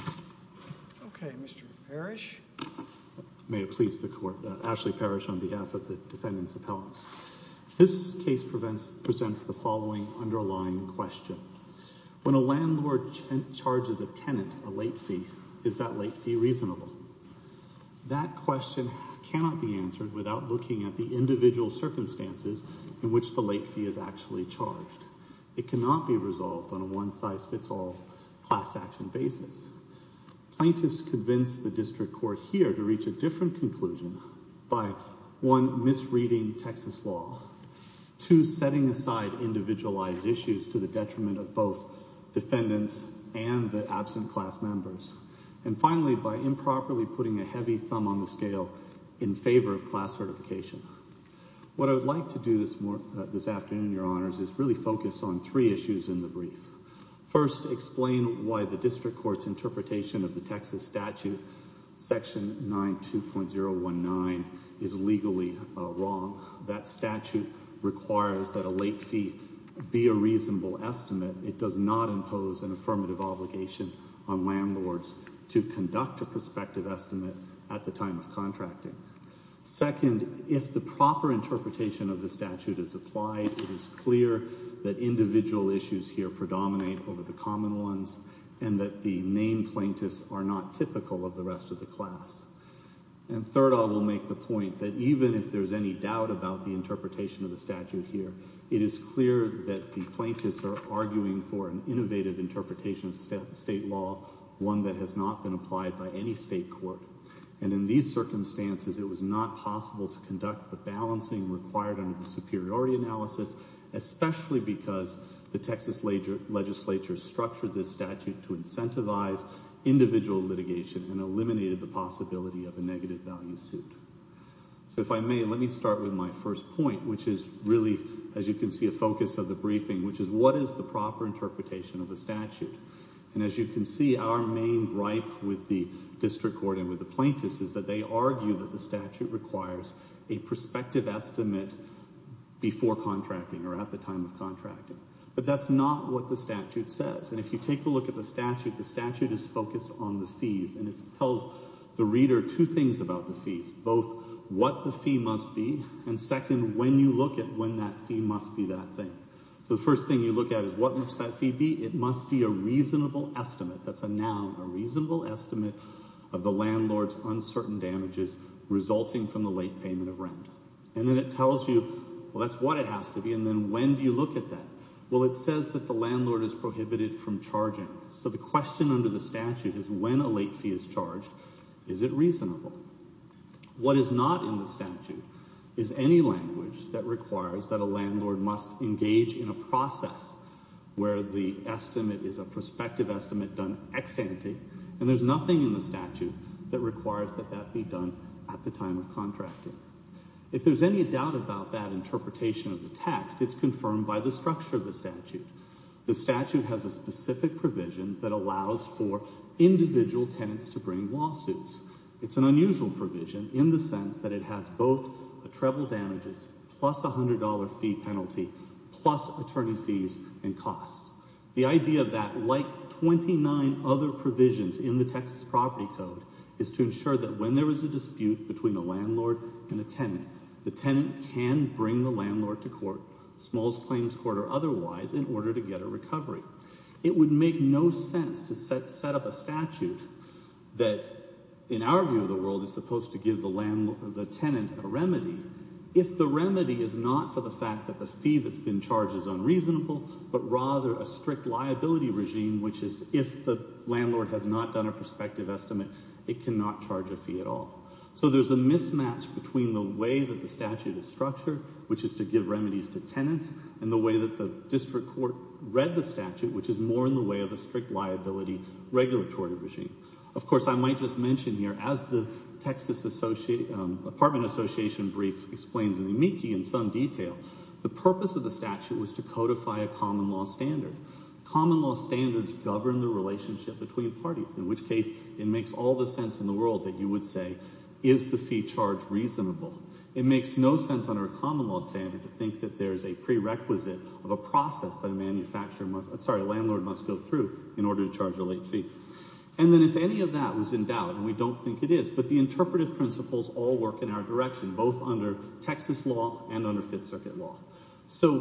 Okay, Mr. Parrish. May it please the court. Ashley Parrish on behalf of the defendant's appellants. This case presents the following underlying question. When a landlord charges a tenant a late fee, is that late fee reasonable? That question cannot be answered without looking at the individual circumstances in which the late fee is actually charged. It cannot be resolved on one size fits all class action basis. Plaintiffs convince the district court here to reach a different conclusion by one, misreading Texas law. Two, setting aside individualized issues to the detriment of both defendants and the absent class members. And finally, by improperly putting a heavy thumb on the scale in favor of class certification. What I would like to do this afternoon, your honors, is really focus on three issues in the brief. First, explain why the district court's interpretation of the Texas statute, section 92.019, is legally wrong. That statute requires that a late fee be a reasonable estimate. It does not impose an affirmative obligation on landlords to conduct a prospective estimate at the time of contracting. Second, if the proper interpretation of the statute is applied, it is clear that individual issues here predominate over the common ones and that the main plaintiffs are not typical of the rest of the class. And third, I will make the point that even if there's any doubt about the interpretation of the statute here, it is clear that the plaintiffs are arguing for an innovative interpretation of state law, one that has not been applied by any state court. And in these circumstances, it was not possible to conduct the balancing required under the superiority analysis, especially because the Texas legislature structured this statute to incentivize individual litigation and eliminated the possibility of a negative value suit. So if I may, let me start with my first point, which is really, as you can see, a focus of the briefing, which is what is the proper interpretation of the statute? And as you can see, our main gripe with the district court and with the plaintiffs is that they argue that the statute requires a prospective estimate before contracting or at the time of contracting. But that's not what the statute says. And if you take a look at the statute, the statute is focused on the fees, and it tells the reader two things about the fees, both what the fee must be, and second, when you look at when that fee must be that thing. So the first thing you look at is what must that fee be? It must be a reasonable estimate. That's a noun, a reasonable estimate of the landlord's uncertain damages resulting from the late payment of rent. And then it tells you, well, that's what it has to be. And then when do you look at that? Well, it says that the landlord is prohibited from charging. So the question under the statute is when a late fee is charged, is it reasonable? What is not in the statute is any language that requires that a landlord must engage in a process where the estimate is a prospective estimate done ex-ante, and there's nothing in the statute that requires that that be done at the time of contracting. If there's any doubt about that interpretation of the text, it's confirmed by the structure of the statute. The statute has a specific provision that allows for individual tenants to bring lawsuits. It's an unusual provision in the sense that it has both the treble damages, plus $100 fee penalty, plus attorney fees and costs. The idea of that, like 29 other provisions in the Texas Property Code, is to ensure that when there is a dispute between a landlord and a tenant, the tenant can bring the landlord to court, small claims court or otherwise, in order to get a recovery. It would make no sense to set up a statute that, in our view of the world, is supposed to give the tenant a remedy if the remedy is not for the fact that the fee that's been charged is unreasonable, but rather a strict liability regime, which is if the landlord has not done a prospective estimate, it cannot charge a fee at all. So there's a mismatch between the way that the statute is structured, which is to give remedies to tenants, and the way that the district court read the statute, which is more in the way of a strict liability regulatory regime. Of course, I might just mention here, as the Texas Association, Apartment Association brief explains in the Miki in some detail, the purpose of the statute was to codify a common law standard. Common law standards govern the relationship between parties, in which case it makes all the sense in the world that you would say, is the fee charged reasonable? It makes no sense under a common law standard to think that there is a prerequisite of a process that a manufacturer sorry, a landlord must go through in order to charge a late fee. And then if any of that was in doubt, and we don't think it is, but the interpretive principles all work in our direction, both under Texas law and under Fifth Circuit law. So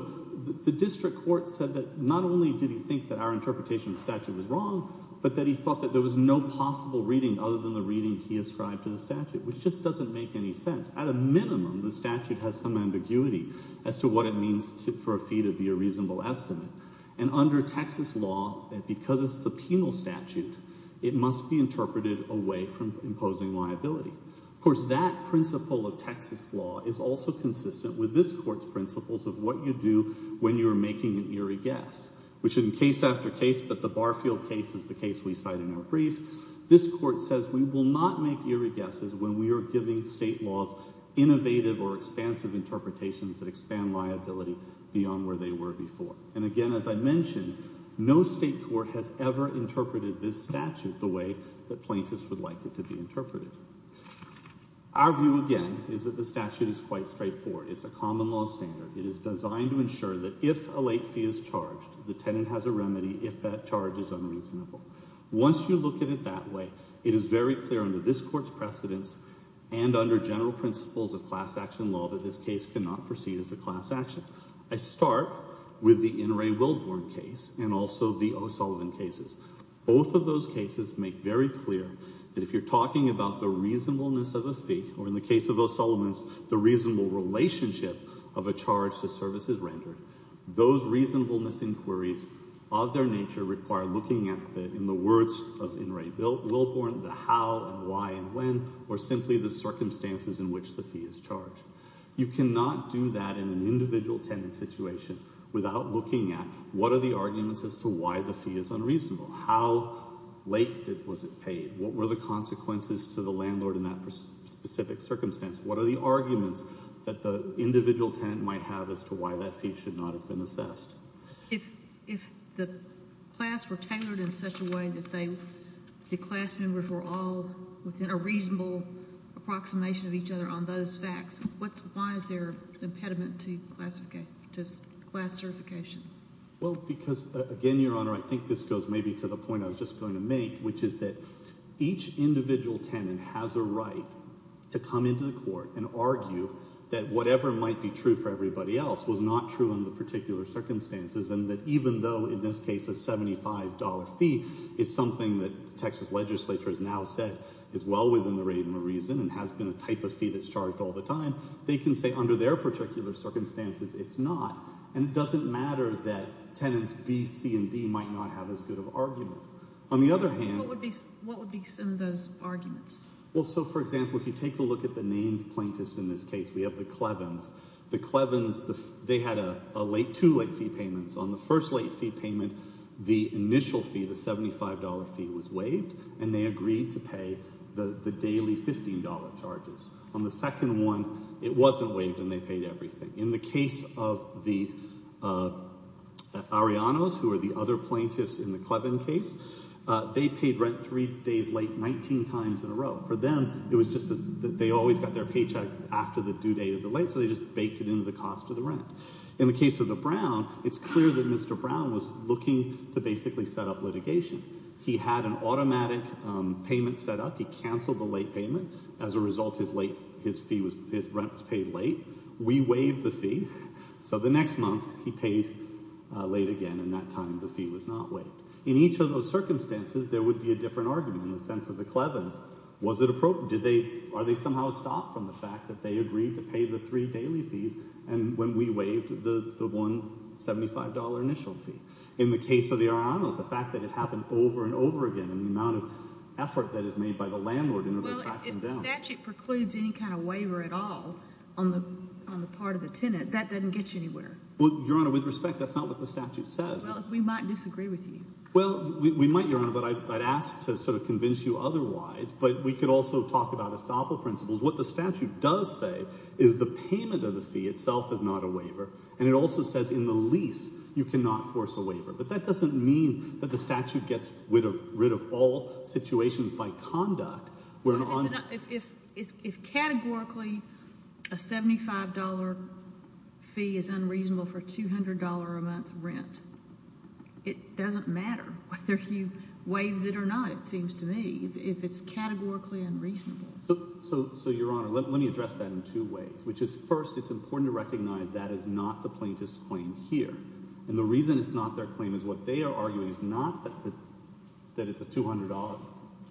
the district court said that not only did he think that our interpretation of the statute was wrong, but that he thought that there was no possible reading other than the reading he ascribed to the statute, which just doesn't make any sense. At a minimum, the statute has some ambiguity as to what it means for a fee to be reasonable estimate. And under Texas law, because it's a penal statute, it must be interpreted away from imposing liability. Of course, that principle of Texas law is also consistent with this court's principles of what you do when you're making an eerie guess, which in case after case, but the Barfield case is the case we cite in our brief. This court says we will not make eerie guesses when we are giving state laws innovative or expansive interpretations that expand liability beyond where they were before. And again, as I mentioned, no state court has ever interpreted this statute the way that plaintiffs would like it to be interpreted. Our view again is that the statute is quite straightforward. It's a common law standard. It is designed to ensure that if a late fee is charged, the tenant has a remedy if that charge is unreasonable. Once you look at it that way, it is very clear under this court's precedents and under general principles of class action. I start with the In re Willborn case and also the O'Sullivan cases. Both of those cases make very clear that if you're talking about the reasonableness of a fee or in the case of O'Sullivan's the reasonable relationship of a charge to services rendered, those reasonableness inquiries of their nature require looking at the, in the words of In re Willborn, the how and why and when or simply the circumstances in which the fee is charged. You cannot do that in an individual tenant situation without looking at what are the arguments as to why the fee is unreasonable. How late was it paid? What were the consequences to the landlord in that specific circumstance? What are the arguments that the individual tenant might have as to why that fee should not have been assessed? If the class were tailored in such a way that the class members were all within a reasonable approximation of each other on those facts, what's, why is there an impediment to classification, to class certification? Well, because again, Your Honor, I think this goes maybe to the point I was just going to make, which is that each individual tenant has a right to come into the court and argue that whatever might be true for everybody else was not true in the particular circumstances and that even though in this case a $75 fee is something that is well within the reason and has been a type of fee that's charged all the time, they can say under their particular circumstances it's not and it doesn't matter that tenants B, C, and D might not have as good of argument. On the other hand, what would be some of those arguments? Well, so for example, if you take a look at the named plaintiffs in this case, we have the Clevens. The Clevens, they had a late, two late fee payments. On the first late fee payment, the initial fee, the $75 fee was waived and they agreed to pay the daily $15 charges. On the second one, it wasn't waived and they paid everything. In the case of the Arianos, who are the other plaintiffs in the Cleven case, they paid rent three days late 19 times in a row. For them, it was just that they always got their paycheck after the due date of the late, so they just baked it into the cost of the rent. In the case of the Brown, it's clear that Mr. Brown was looking to basically set up litigation. He had an automatic payment set up. He canceled the late payment. As a result, his rent was paid late. We waived the fee, so the next month he paid late again and that time the fee was not waived. In each of those circumstances, there would be a different argument in the sense of the Clevens. Are they somehow stopped from the fact that they in the case of the Arianos, the fact that it happened over and over again and the amount of effort that is made by the landlord in order to track them down? Well, if the statute precludes any kind of waiver at all on the part of the tenant, that doesn't get you anywhere. Well, Your Honor, with respect, that's not what the statute says. Well, we might disagree with you. Well, we might, Your Honor, but I'd ask to sort of convince you otherwise, but we could also talk about estoppel principles. What the statute does say is the payment of the fee itself is not a waiver, but that doesn't mean that the statute gets rid of all situations by conduct. If categorically a $75 fee is unreasonable for $200 a month rent, it doesn't matter whether you waived it or not, it seems to me, if it's categorically unreasonable. So, Your Honor, let me address that in two ways, which is first, it's important to recognize that is not the claim. What they are arguing is not that it's a $200,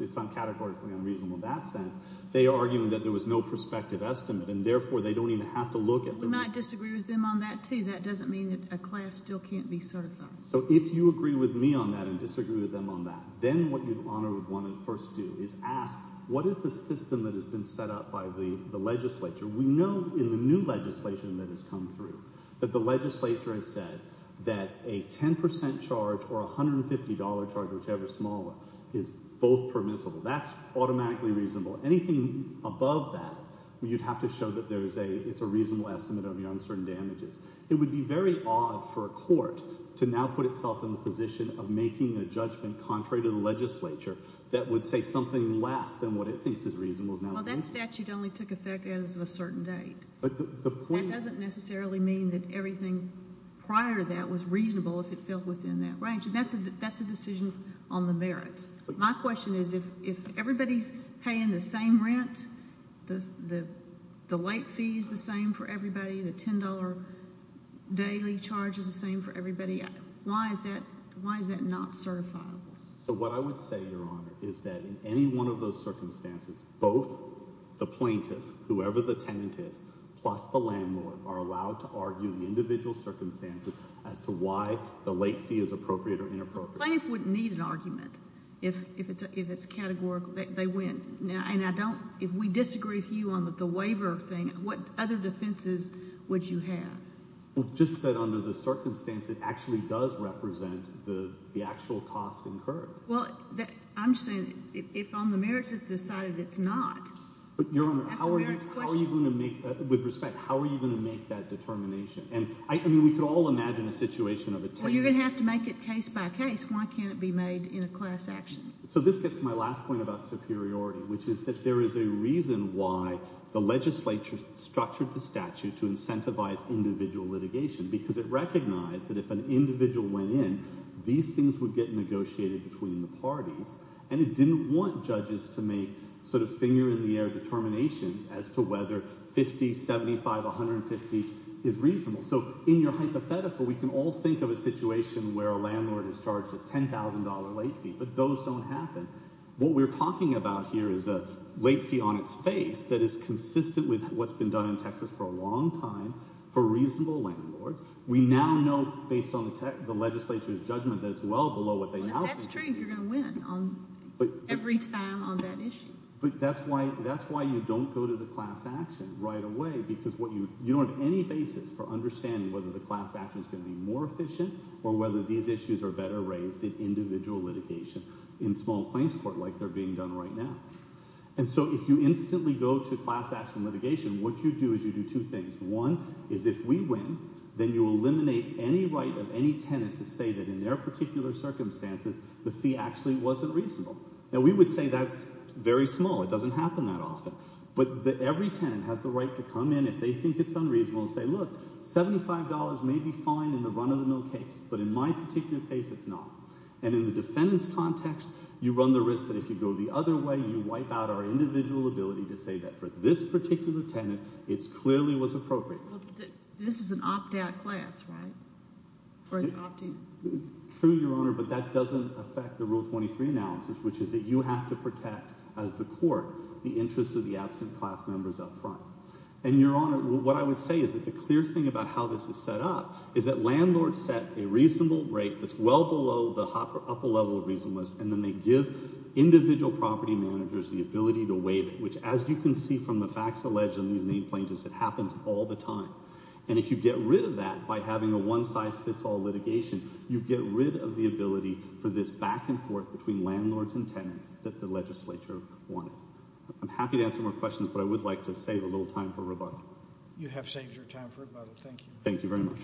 it's categorically unreasonable in that sense. They are arguing that there was no prospective estimate and therefore they don't even have to look at it. We might disagree with them on that too. That doesn't mean that a class still can't be certified. So, if you agree with me on that and disagree with them on that, then what Your Honor would want to first do is ask, what is the system that has been set up by the legislature? We know in the new legislation that has come through that the legislature has said that a 10% charge or a $150 charge, whichever is smaller, is both permissible. That's automatically reasonable. Anything above that, you'd have to show that it's a reasonable estimate of your uncertain damages. It would be very odd for a court to now put itself in the position of making a judgment contrary to the legislature that would say something less than what it thinks is reasonable. Well, that statute only took effect as of a certain date. That doesn't necessarily mean that everything prior to that was reasonable if it fell within that range. That's a decision on the merits. My question is, if everybody's paying the same rent, the late fee is the same for everybody, the $10 daily charge is the same for everybody, why is that not certifiable? So, what I would say, Your Honor, is that in any one of those circumstances, both the plaintiff, whoever the tenant is, plus the landlord, are allowed to argue the individual circumstances as to why the late fee is appropriate or inappropriate. The plaintiff wouldn't need an argument if it's categorical. They win. Now, and I don't, if we disagree with you on the waiver thing, what other defenses would you have? Well, just that under the circumstance, it actually does represent the actual cost incurred. Well, I'm saying if on the merits it's decided it's not. But, Your Honor, how are you going to make, with respect, how are you going to make that determination? And, I mean, we could all imagine a situation of a tenant. Well, you're going to have to make it case by case. Why can't it be made in a class action? So, this gets my last point about superiority, which is that there is a reason why the legislature structured the statute to incentivize individual litigation, because it recognized that if an individual went in, these things would get negotiated between the parties, and it didn't want judges to make, sort of, finger-in-the-air determinations as to whether 50, 75, 150 is reasonable. So, in your hypothetical, we can all think of a situation where a landlord is charged a $10,000 late fee, but those don't happen. What we're talking about here is a late fee on its face that is consistent with what's been done in Texas for a long time for reasonable landlords. We now know, based on the legislature's judgment, that it's well below what they now think. Well, that's why you don't go to the class action right away, because you don't have any basis for understanding whether the class action is going to be more efficient or whether these issues are better raised in individual litigation in small claims court, like they're being done right now. And so, if you instantly go to class action litigation, what you do is you do two things. One is, if we win, then you eliminate any right of any tenant to say that in their particular circumstances, the fee actually wasn't reasonable. Now, we would say that's very small, it doesn't happen that often, but every tenant has the right to come in if they think it's unreasonable and say, look, $75 may be fine in the run-of-the-mill case, but in my particular case, it's not. And in the defendant's context, you run the risk that if you go the other way, you wipe out our individual ability to say that for this particular tenant, it clearly was appropriate. This is an opt-out class, right? True, Your Honor, but that doesn't affect the Rule 23 analysis, which is that you have to protect, as the court, the interests of the absent class members up front. And, Your Honor, what I would say is that the clear thing about how this is set up is that landlords set a reasonable rate that's well below the upper level of reasonableness, and then they give individual property managers the ability to waive it, which, as you can see from the facts alleged in these by having a one-size-fits-all litigation, you get rid of the ability for this back-and-forth between landlords and tenants that the legislature wanted. I'm happy to answer more questions, but I would like to save a little time for rebuttal. You have saved your time for rebuttal. Thank you. Thank you very much.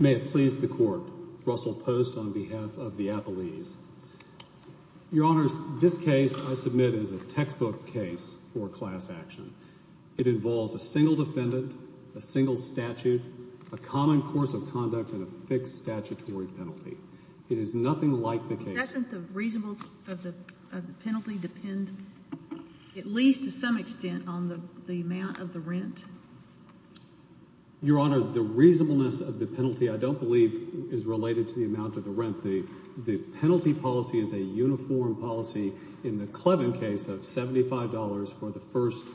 May it please the Court. Russell Post on behalf of the case for class action. It involves a single defendant, a single statute, a common course of conduct, and a fixed statutory penalty. It is nothing like the case. Doesn't the reasonableness of the penalty depend, at least to some extent, on the amount of the rent? Your Honor, the reasonableness of the penalty I don't believe is related to the amount of the penalty. The penalty policy is a uniform policy in the Clevin case of $75 for the first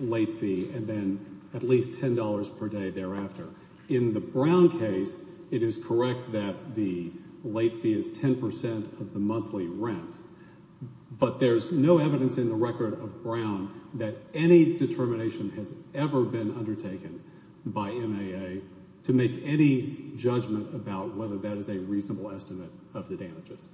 late fee and then at least $10 per day thereafter. In the Brown case, it is correct that the late fee is 10% of the monthly rent, but there's no evidence in the record of Brown that any determination has ever been undertaken by MAA to make any judgment about whether that is a reasonable estimate of the damages.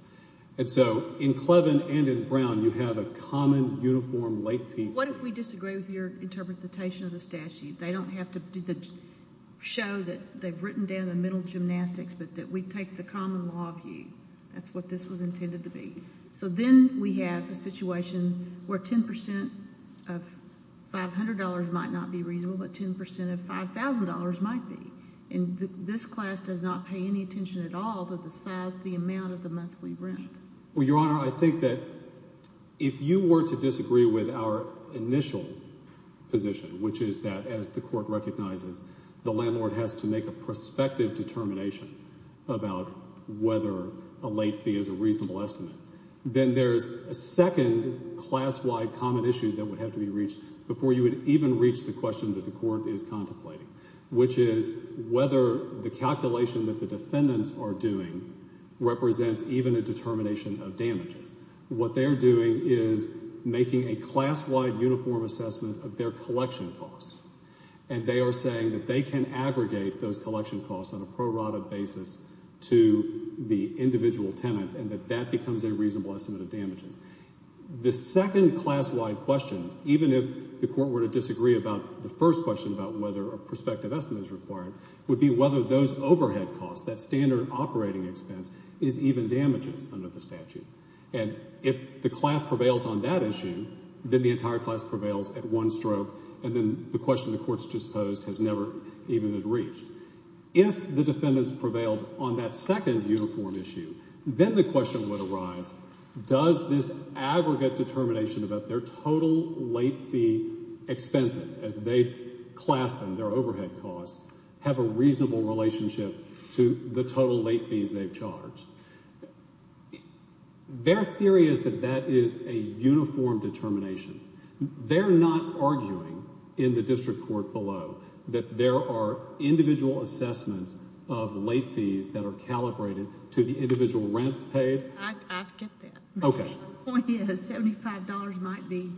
And so, in Clevin and in Brown, you have a common, uniform late fee. What if we disagree with your interpretation of the statute? They don't have to show that they've written down the middle gymnastics, but that we take the common law view. That's what this was intended to be. So then we have a situation where 10% of $500 might not be the amount of the monthly rent. Well, Your Honor, I think that if you were to disagree with our initial position, which is that as the Court recognizes, the landlord has to make a prospective determination about whether a late fee is a reasonable estimate, then there's a second class-wide common issue that would have to be reached before you would even reach the question that the Court is contemplating, which is whether the calculation that the defendants are doing represents even a determination of damages. What they're doing is making a class-wide uniform assessment of their collection costs, and they are saying that they can aggregate those collection costs on a pro rata basis to the individual tenants, and that that becomes a reasonable estimate of damages. The second class-wide question, even if the Court were to disagree about the first question about whether a prospective estimate is required, would be whether those overhead costs, that standard operating expense, is even damages under the statute. And if the class prevails on that issue, then the entire class prevails at one stroke, and then the question the Court's just posed has never even been reached. If the defendants prevailed on that second uniform issue, then the question would arise, does this aggregate determination about their total late fee expenses as they class them, their overhead costs, have a reasonable relationship to the total late fees they've charged? Their theory is that that is a uniform determination. They're not arguing in the District Court below that there are individual assessments of late fees that are calibrated to the individual rent paid? I get that. Okay. Point is, $75 might be,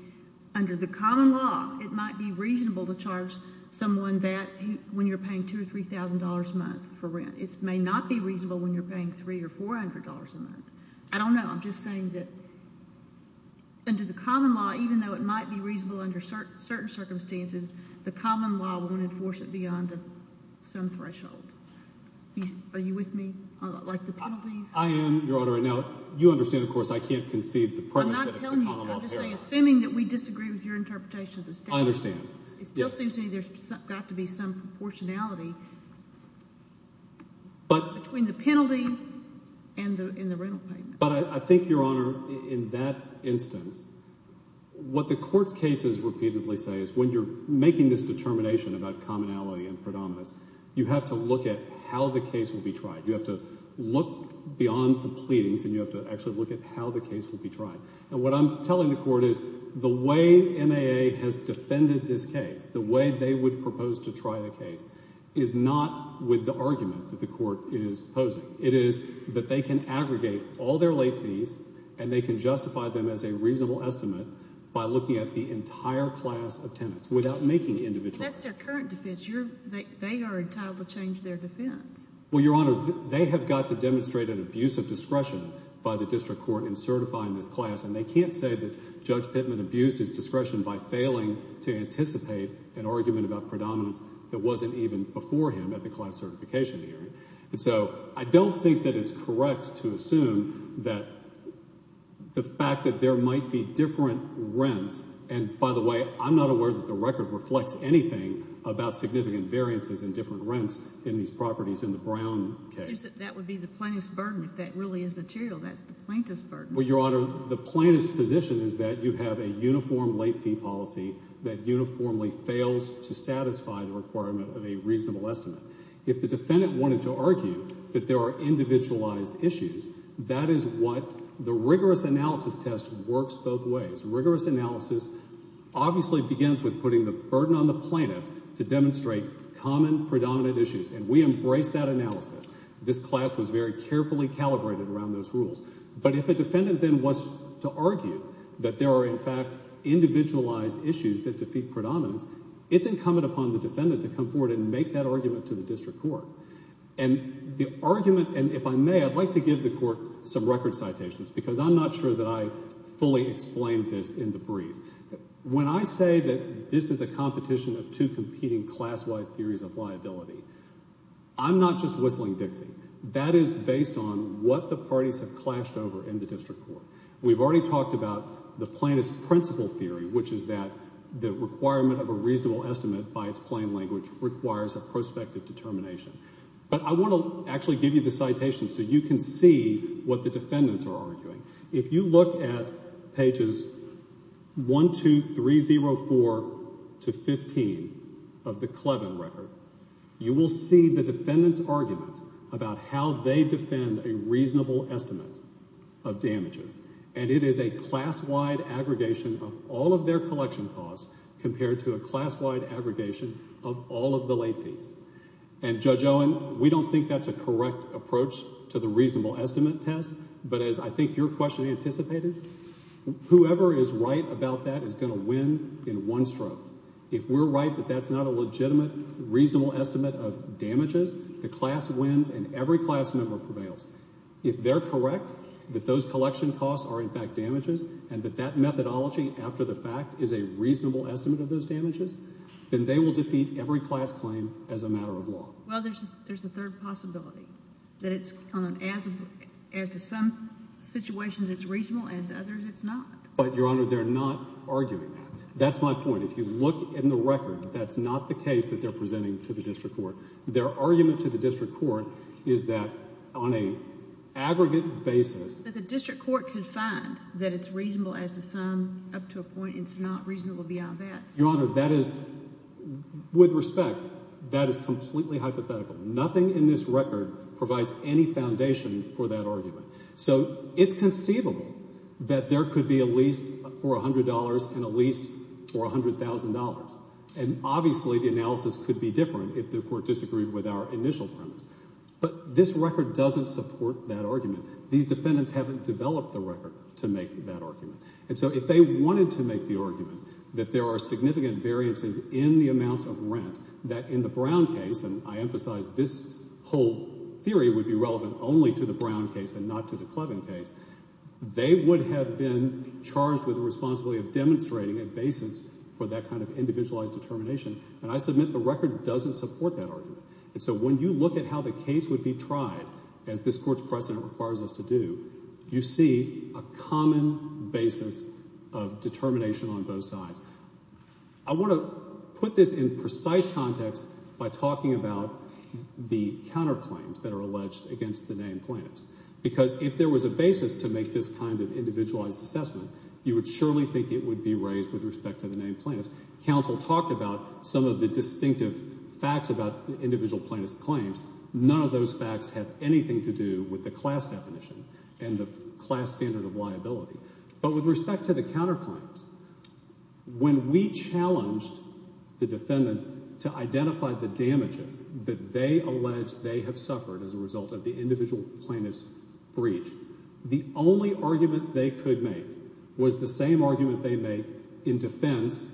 under the common law, it might be reasonable to charge someone that when you're paying $2,000 or $3,000 a month for rent. It may not be reasonable when you're paying $300 or $400 a month. I don't know. I'm just saying that under the common law, even though it might be reasonable under certain circumstances, the common law won't enforce it beyond some threshold. Are you with me on the penalties? I am, Your Honor. Now, you understand, of course, I can't concede the premise that it's the common law. Assuming that we disagree with your interpretation of the statute. I understand. It still seems to me there's got to be some proportionality between the penalty and the rental payment. But I think, Your Honor, in that instance, what the Court's cases repeatedly say is when you're making this determination about commonality and predominance, you have to look at how the case will be tried. You have to look beyond the the way MAA has defended this case, the way they would propose to try the case, is not with the argument that the Court is posing. It is that they can aggregate all their late fees and they can justify them as a reasonable estimate by looking at the entire class of tenants without making individual. That's their current defense. They are entitled to change their defense. Well, Your Honor, they have got to demonstrate an abuse of discretion by the District Court in Judge Pittman abused his discretion by failing to anticipate an argument about predominance that wasn't even before him at the class certification hearing. And so I don't think that it's correct to assume that the fact that there might be different rents, and by the way, I'm not aware that the record reflects anything about significant variances in different rents in these properties in the Brown case. That would be the plaintiff's burden if that really is material. That's the you have a uniform late fee policy that uniformly fails to satisfy the requirement of a reasonable estimate. If the defendant wanted to argue that there are individualized issues, that is what the rigorous analysis test works both ways. Rigorous analysis obviously begins with putting the burden on the plaintiff to demonstrate common predominant issues, and we embrace that analysis. This class was very carefully calibrated around those rules. But if a defendant then wants to argue that there are, in fact, individualized issues that defeat predominance, it's incumbent upon the defendant to come forward and make that argument to the District Court. And the argument, and if I may, I'd like to give the Court some record citations because I'm not sure that I fully explained this in the brief. When I say that this is a competition of two competing class-wide theories of liability, I'm not just whistling Dixie. That is based on what the parties have in common. The plaintiff's principle theory, which is that the requirement of a reasonable estimate by its plain language requires a prospective determination. But I want to actually give you the citations so you can see what the defendants are arguing. If you look at pages 1, 2, 3, 0, 4 to 15 of the Clevin record, you will see the defendant's argument about how they defend a reasonable estimate of damages. And it is a class-wide aggregation of all of their collection costs compared to a class-wide aggregation of all of the late fees. And, Judge Owen, we don't think that's a correct approach to the reasonable estimate test. But as I think your question anticipated, whoever is right about that is going to win in one stroke. If we're right that that's not a legitimate, reasonable estimate of damages, the class wins and every class member prevails. If they're correct that those collection costs are, in fact, damages, and that that methodology after the fact is a reasonable estimate of those damages, then they will defeat every class claim as a matter of law. Well, there's a third possibility. That it's, as to some situations, it's reasonable. As to others, it's not. But, Your Honor, they're not arguing that. That's my point. If you look in the record, that's not the district court is that on a aggregate basis. That the district court can find that it's reasonable as to some, up to a point, it's not reasonable beyond that. Your Honor, that is, with respect, that is completely hypothetical. Nothing in this record provides any foundation for that argument. So, it's conceivable that there could be a lease for $100 and a lease for $100,000. And, but this record doesn't support that argument. These defendants haven't developed the record to make that argument. And so, if they wanted to make the argument that there are significant variances in the amounts of rent, that in the Brown case, and I emphasize this whole theory would be relevant only to the Brown case and not to the Clevin case, they would have been charged with the responsibility of demonstrating a basis for that kind of individualized determination. And I submit the record doesn't support that argument. And so, when you look at how the case would be tried, as this court's precedent requires us to do, you see a common basis of determination on both sides. I want to put this in precise context by talking about the counter claims that are alleged against the named plaintiffs. Because if there was a basis to make this kind of individualized assessment, you would surely think it would be raised with respect to the named plaintiffs. Counsel talked about some of the distinctive facts about the individual plaintiffs' claims. None of those facts have anything to do with the class definition and the class standard of liability. But with respect to the counter claims, when we challenged the defendants to identify the damages that they allege they have suffered as a result of the individual plaintiffs' breach, the only argument they could make was the same argument they make in defense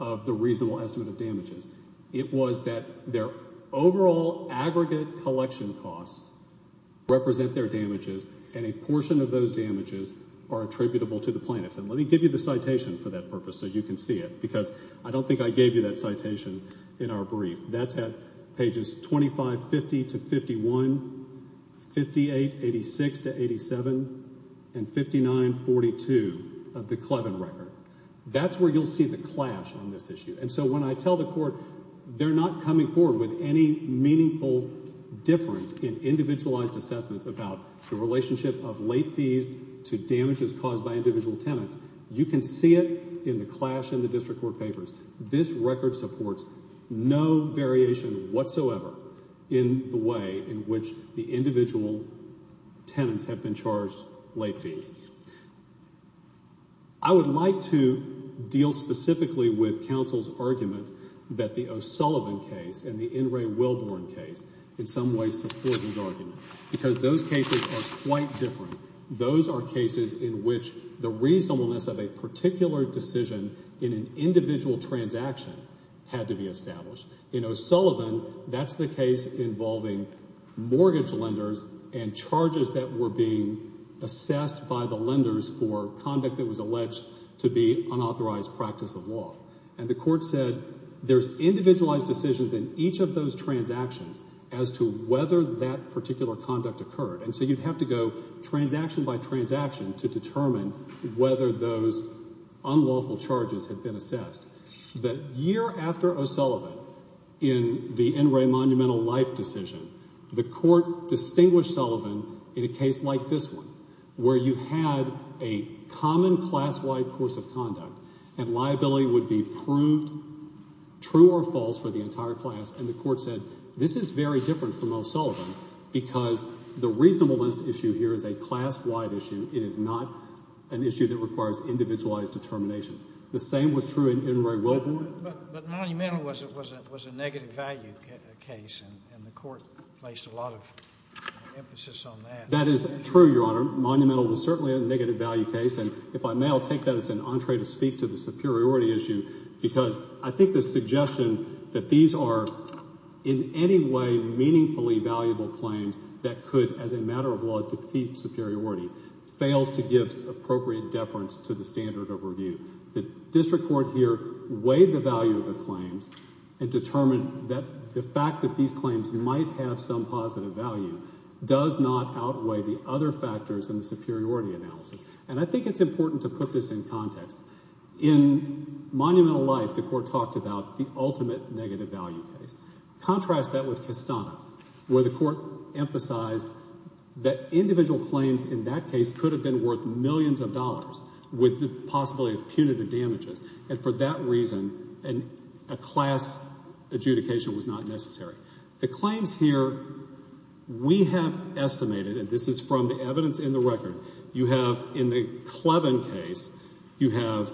of the reasonable estimate of damages. It was that their overall aggregate collection costs represent their damages and a portion of those damages are attributable to the plaintiffs. And let me give you the citation for that purpose so you can see it, because I don't think I gave you that citation in our brief. That's at pages 2550 to 51, 5886 to 87, and 5942 of the Clevin record. That's where you'll see the clash on this issue. And so when I tell the court they're not coming forward with any meaningful difference in individualized assessments about the relationship of late fees to damages caused by individual tenants, you can see it in the clash in the district court papers. This record supports no variation whatsoever in the way in which the individual tenants have been charged late fees. I would like to deal specifically with counsel's argument that the O'Sullivan case and the N. Ray Wilborn case in some way support his argument, because those cases are quite different. Those are cases in which the reasonableness of a particular decision in an individual transaction had to be established. In O'Sullivan, that's the case involving mortgage lenders and charges that were being assessed by the lenders for conduct that was alleged to be unauthorized practice of law. And the court said there's individualized decisions in each of those transactions as to whether that particular conduct occurred. And so you'd have to go transaction by transaction to determine whether those unlawful charges had been assessed. The year after O'Sullivan, in the N. Ray Monumental Life decision, the court distinguished Sullivan in a case like this one, where you had a common class-wide course of conduct and liability would be proved true or false for the entire class. And the court said this is very different from O'Sullivan because the reasonableness issue here is a class-wide issue. It is not an issue that requires individualized determinations. The same was true in N. Ray Wilborn. But Monumental was a negative value case, and the court placed a lot of emphasis on that. That is true, Your Honor. Monumental was certainly a negative value case. And if I may, I'll take that as an entree to speak to the superiority issue, because I think the suggestion that these are in any way meaningfully valuable claims that could, as a matter of law, defeat superiority, fails to give appropriate deference to the standard of review. The district court here weighed the value of the claims and determined that the fact that these claims might have some positive value does not outweigh the other factors in the superiority analysis. And I think it's important to put this in context. In Monumental Life, the court talked about the ultimate negative value case. Contrast that with Kistana, where the court emphasized that individual claims in that case could have been worth millions of dollars, with the possibility of punitive damages. And for that reason, a class adjudication was not necessary. The claims here, we have estimated, and this is from the evidence in the record, you have in the Clevin case, you have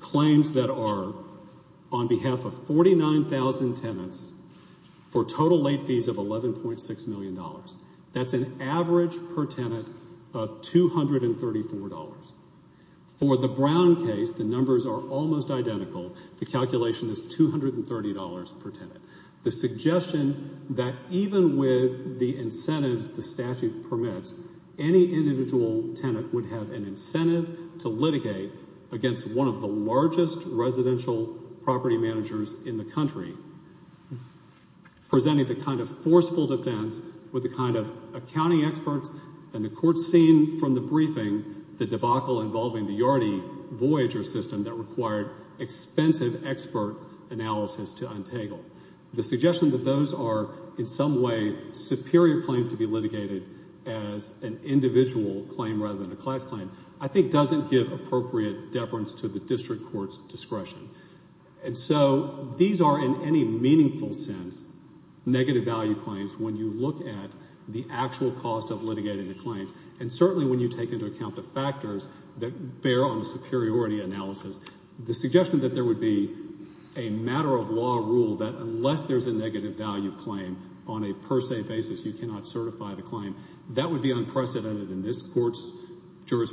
claims that are on behalf of 49,000 tenants for total late fees of $11.6 million. That's an average per tenant of $234. For the Brown case, the numbers are almost identical. The calculation is $230 per tenant. The suggestion that even with the incentives the statute permits, any individual tenant would have an incentive to litigate against one of the largest residential property managers in the country, presenting the kind of forceful defense with the kind of accounting experts, and the court's seen from the briefing the debacle involving the Yardie Voyager system that required expensive expert analysis to untangle. The suggestion that those are in some way superior claims to be litigated as an individual claim rather than a class claim, I think doesn't give appropriate deference to the district court's discretion. And so these are in any meaningful sense negative value claims when you look at the actual cost of litigating the claims, and certainly when you take into account the factors that bear on the superiority analysis. The suggestion that there would be a matter of law rule that unless there's a negative value claim on a per se basis, you cannot certify the claim, that would be unprecedented in this court's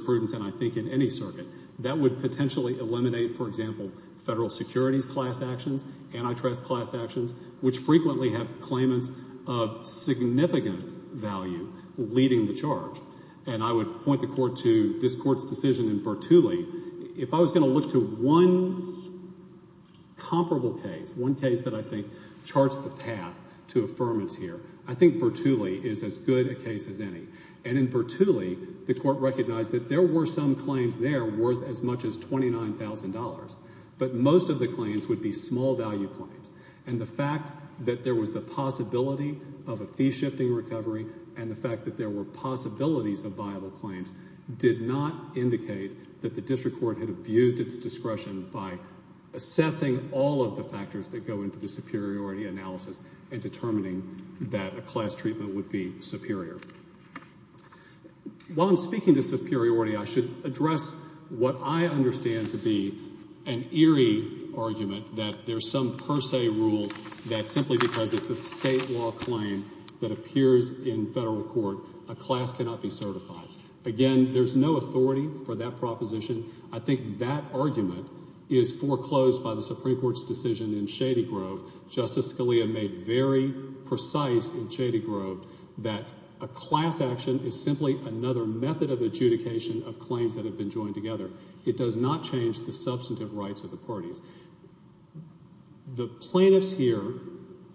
prudence and I think in any circuit. That would potentially eliminate, for example, federal securities class actions, antitrust class actions, which frequently have claimants of significant value leading the charge. And I would point the court to this court's decision in Bertulli. If I was going to look to one comparable case, one case that I think charts the path to affirmance here, I think Bertulli is as good a case as any. And in Bertulli, the court recognized that there were some claims there worth as much as $29,000, but most of the claims would be small value claims. And the fact that there was the possibility of a fee-shifting recovery and the fact that there were possibilities of viable claims did not indicate that the district court had abused its discretion by assessing all of the factors that go into the superiority analysis and determining that a class treatment would be superior. While I'm speaking to superiority, I should address what I understand to be an eerie argument that there's some per se rule that simply because it's a state law claim that appears in federal court, a class cannot be certified. Again, there's no authority for that proposition. I think that argument is foreclosed by the Supreme Court's decision in Shady Grove. Justice Scalia made very precise in Shady Grove that a class action is simply another method of adjudication of claims that have been joined together. It does not change the substantive rights of the parties. The plaintiffs here,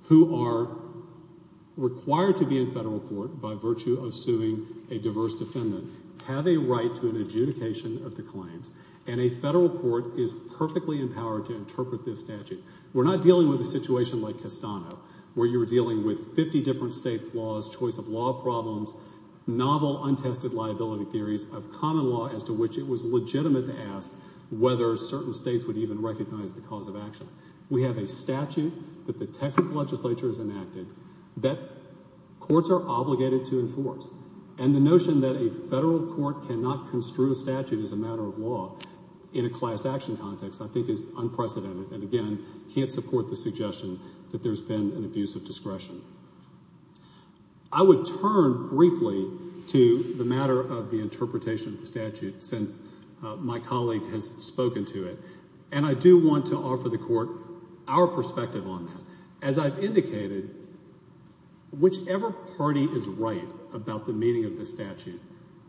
who are required to be in federal court by virtue of suing a diverse defendant, have a right to an adjudication of the claims. And a federal court is perfectly empowered to interpret this statute. We're not dealing with a situation like Castano, where you're dealing with 50 different states' laws, choice of law problems, novel untested liability theories of common law as to which it was legitimate to ask whether certain states would even recognize the cause of action. We have a statute that the Texas legislature has enacted that courts are obligated to enforce. And the notion that a federal court cannot construe a statute as a matter of law in a class action context I think is unprecedented and, again, can't support the suggestion that there's been an abuse of discretion. I would turn briefly to the matter of the interpretation of the statute since my colleague has spoken to it. And I do want to offer the court our perspective on that. As I've indicated, whichever party is right about the meaning of the statute,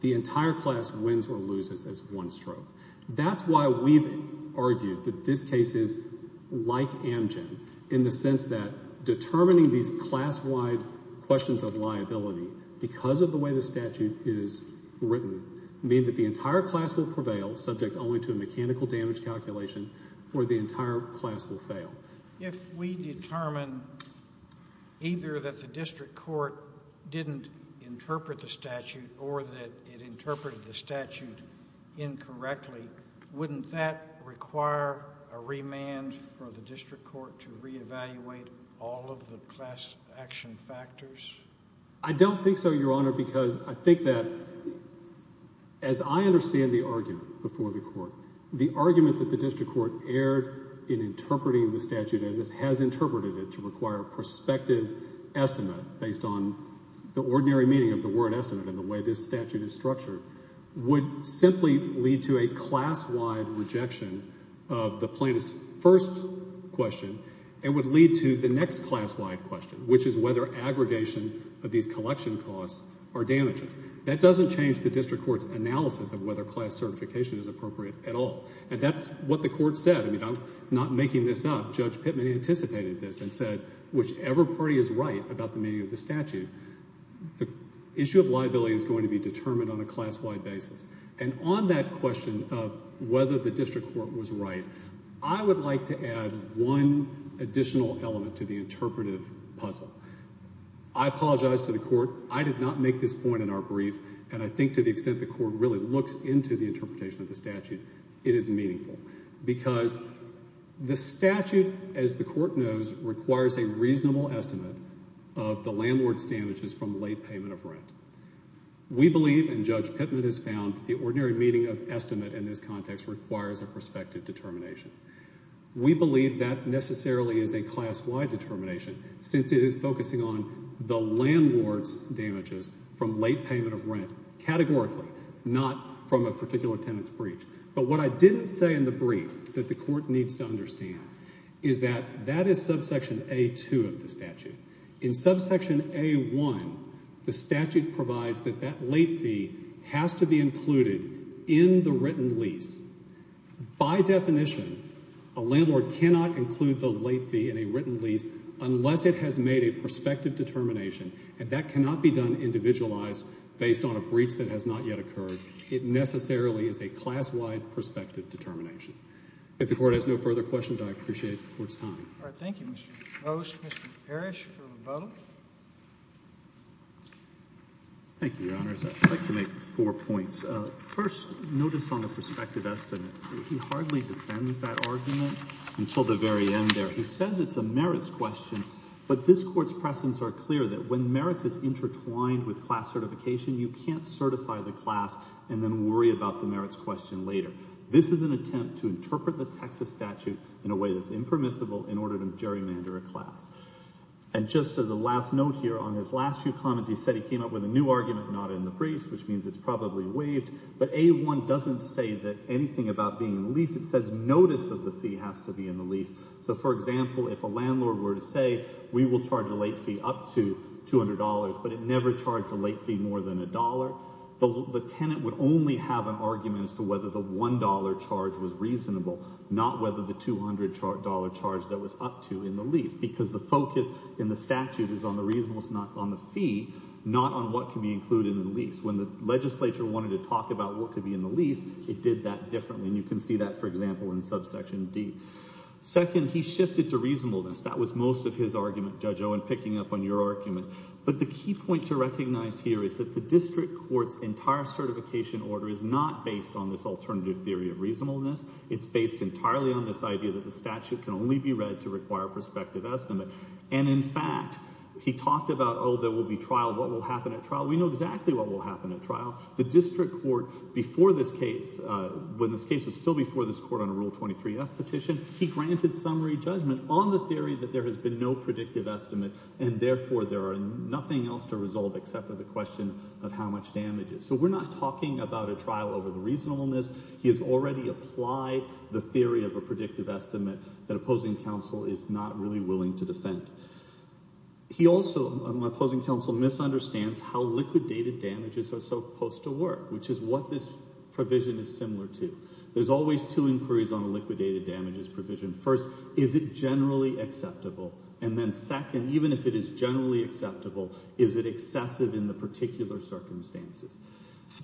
the entire class wins or loses as one stroke. That's why we've argued that this case is like Amgen in the sense that determining these class-wide questions of liability because of the way the statute is written mean that the entire class will prevail subject only to a mechanical damage calculation or the entire class will fail. If we determine either that the district court didn't interpret the statute or that it interpreted the statute incorrectly, wouldn't that require a remand for the district court to reevaluate all of the class action factors? I don't think so, Your Honor, because I think that as I understand the argument before the court, the argument that the district court erred in interpreting the statute as it has interpreted it to require a prospective estimate based on the ordinary meaning of the word estimate and the way this statute is questioned and would lead to the next class-wide question, which is whether aggregation of these collection costs are damages. That doesn't change the district court's analysis of whether class certification is appropriate at all. And that's what the court said. I'm not making this up. Judge Pittman anticipated this and said whichever party is right about the meaning of the statute, the issue of liability is going to be determined on a class-wide basis. And on that question of whether the district court was right, I would like to add one additional element to the interpretive puzzle. I apologize to the court. I did not make this point in our brief. And I think to the extent the court really looks into the interpretation of the statute, it is meaningful. Because the statute, as the court knows, requires a reasonable estimate of the landlord's damages from late payment of rent. We believe, and Judge Pittman has found, the ordinary meaning of estimate in this context requires a prospective determination. We believe that necessarily is a class-wide determination, since it is focusing on the landlord's damages from late payment of rent categorically, not from a particular tenant's breach. But what I didn't say in the brief that the court needs to understand is that that is subsection A-2 of the statute. In subsection A-1, the statute provides that that late fee has to be included in the written lease. By definition, a landlord cannot include the late fee in a written lease unless it has made a prospective determination. And that cannot be done individualized based on a breach that has not yet occurred. It necessarily is a class-wide prospective determination. If the court has no further questions, I'll turn it over to Judge Pittman. Thank you, Your Honors. I'd like to make four points. First, notice on the prospective estimate. He hardly defends that argument until the very end there. He says it's a merits question, but this court's precedents are clear that when merits is intertwined with class certification, you can't certify the class and then worry about the merits question later. This is an attempt to interpret the Texas statute in a way that's impermissible in order to gerrymander a class. And just as a last note on his last few comments, he said he came up with a new argument not in the brief, which means it's probably waived. But A-1 doesn't say anything about being in the lease. It says notice of the fee has to be in the lease. So, for example, if a landlord were to say, we will charge a late fee up to $200, but it never charged a late fee more than a dollar, the tenant would only have an argument as to whether the $1 charge was reasonable, not whether the $200 charge that was up to in the lease. Because the focus in the statute is on the fee, not on what can be included in the lease. When the legislature wanted to talk about what could be in the lease, it did that differently. And you can see that, for example, in subsection D. Second, he shifted to reasonableness. That was most of his argument, Judge Owen, picking up on your argument. But the key point to recognize here is that the district court's entire certification order is not based on this alternative theory of reasonableness. It's based entirely on this idea that the statute can only be read to require a prospective estimate. And in fact, he talked about, oh, there will be trial. What will happen at trial? We know exactly what will happen at trial. The district court, before this case, when this case was still before this court on a Rule 23-F petition, he granted summary judgment on the theory that there has been no predictive estimate, and therefore there are nothing else to resolve except for the question of how much damage is. So we're not talking about a trial over the reasonableness. He has already applied the theory of a predictive estimate that opposing counsel is not really willing to defend. He also, my opposing counsel, misunderstands how liquidated damages are supposed to work, which is what this provision is similar to. There's always two inquiries on a liquidated damages provision. First, is it generally acceptable? And then second, even if it is generally acceptable, is it excessive in the particular circumstances?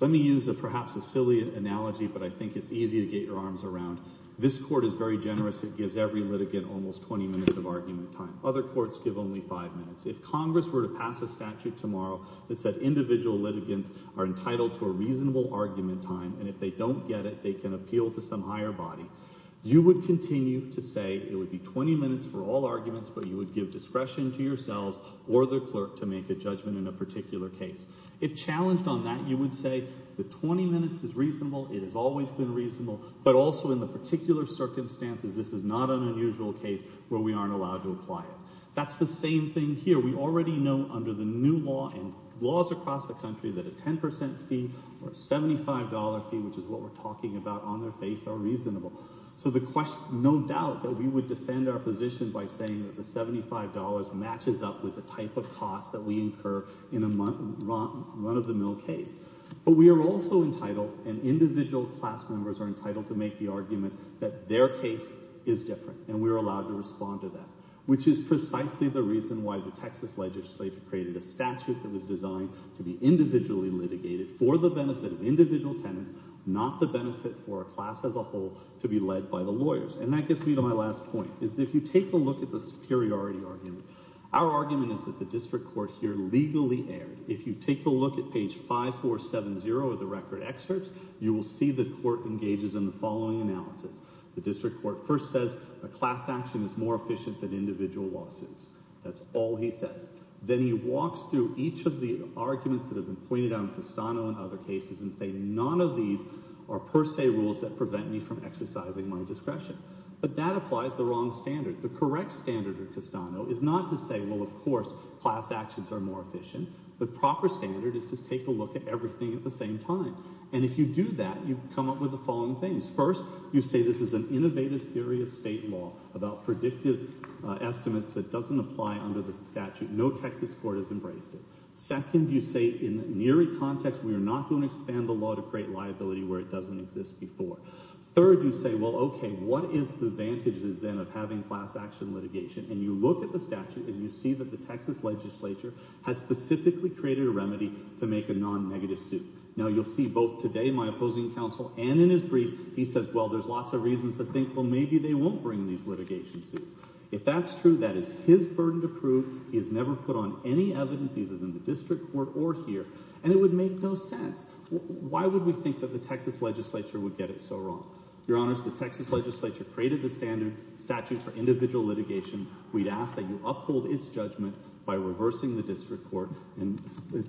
Let me use perhaps a silly analogy, but I think it's easy to get your arms around. This court is very generous. It gives every litigant almost 20 minutes of argument time. Other courts give only five minutes. If Congress were to pass a statute tomorrow that said individual litigants are entitled to a reasonable argument time, and if they don't get it, they can appeal to some higher body, you would continue to say it would be 20 minutes for all arguments, but you would give discretion to yourselves or the clerk to make a judgment in a particular case. If challenged on that, you would say the 20 minutes is reasonable. It has always been reasonable, but also in the particular circumstances, this is not an unusual case where we aren't allowed to apply it. That's the same thing here. We already know under the new law and laws across the country that a 10% fee or a $75 fee, which is what we're talking about on their face, are reasonable. So the question, no doubt that we would defend our position by saying that the $75 matches up with the type of costs that we incur in a run-of-the-mill case, but we are also entitled and individual class members are entitled to make the argument that their case is different, and we're allowed to respond to that, which is precisely the reason why the Texas legislature created a statute that was designed to be individually litigated for the benefit of individual tenants, not the benefit for a class as a whole to be led by the lawyers. And that gets me to my last point, is that if you take a look at the superiority argument, our argument is that the district court here legally erred. If you take a look at page 5470 of the record excerpts, you will see the court engages in the following analysis. The district court first says a class action is more efficient than individual lawsuits. That's all he says. Then he walks through each of the arguments that have been pointed out in Castano and other cases and say none of these are per se rules that prevent me from exercising my discretion. But that applies the wrong standard. The correct standard of Castano is not to say, well of course class actions are more efficient. The proper standard is to take a look at everything at the same time. And if you do that, you come up with the following things. First, you say this is an innovative theory of state law about predictive estimates that doesn't apply under the statute. No Texas court has embraced it. Second, you say in the neary context, we are not going to expand the law to create liability where it doesn't exist before. Third, you say, well okay, what is the advantages then of having class action litigation? And you look at the statute and you see that the Texas legislature has specifically created a remedy to make a non-negative suit. Now you'll see both today my opposing counsel and in his brief, he says, well there's lots of reasons to think, well maybe they won't bring these litigation suits. If that's true, that is his burden to prove. He has never put on any evidence either in the district court or here. And it would make no sense. Why would we think that the Texas legislature would get it so wrong? Your Honor, the Texas legislature created the statute for individual litigation. We'd ask that you uphold its judgment by reversing the district court and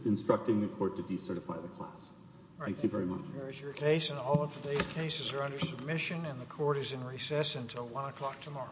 instructing the court to decertify the class. Thank you very much. There is your case and all of today's cases are under submission and the court is in recess until one o'clock tomorrow.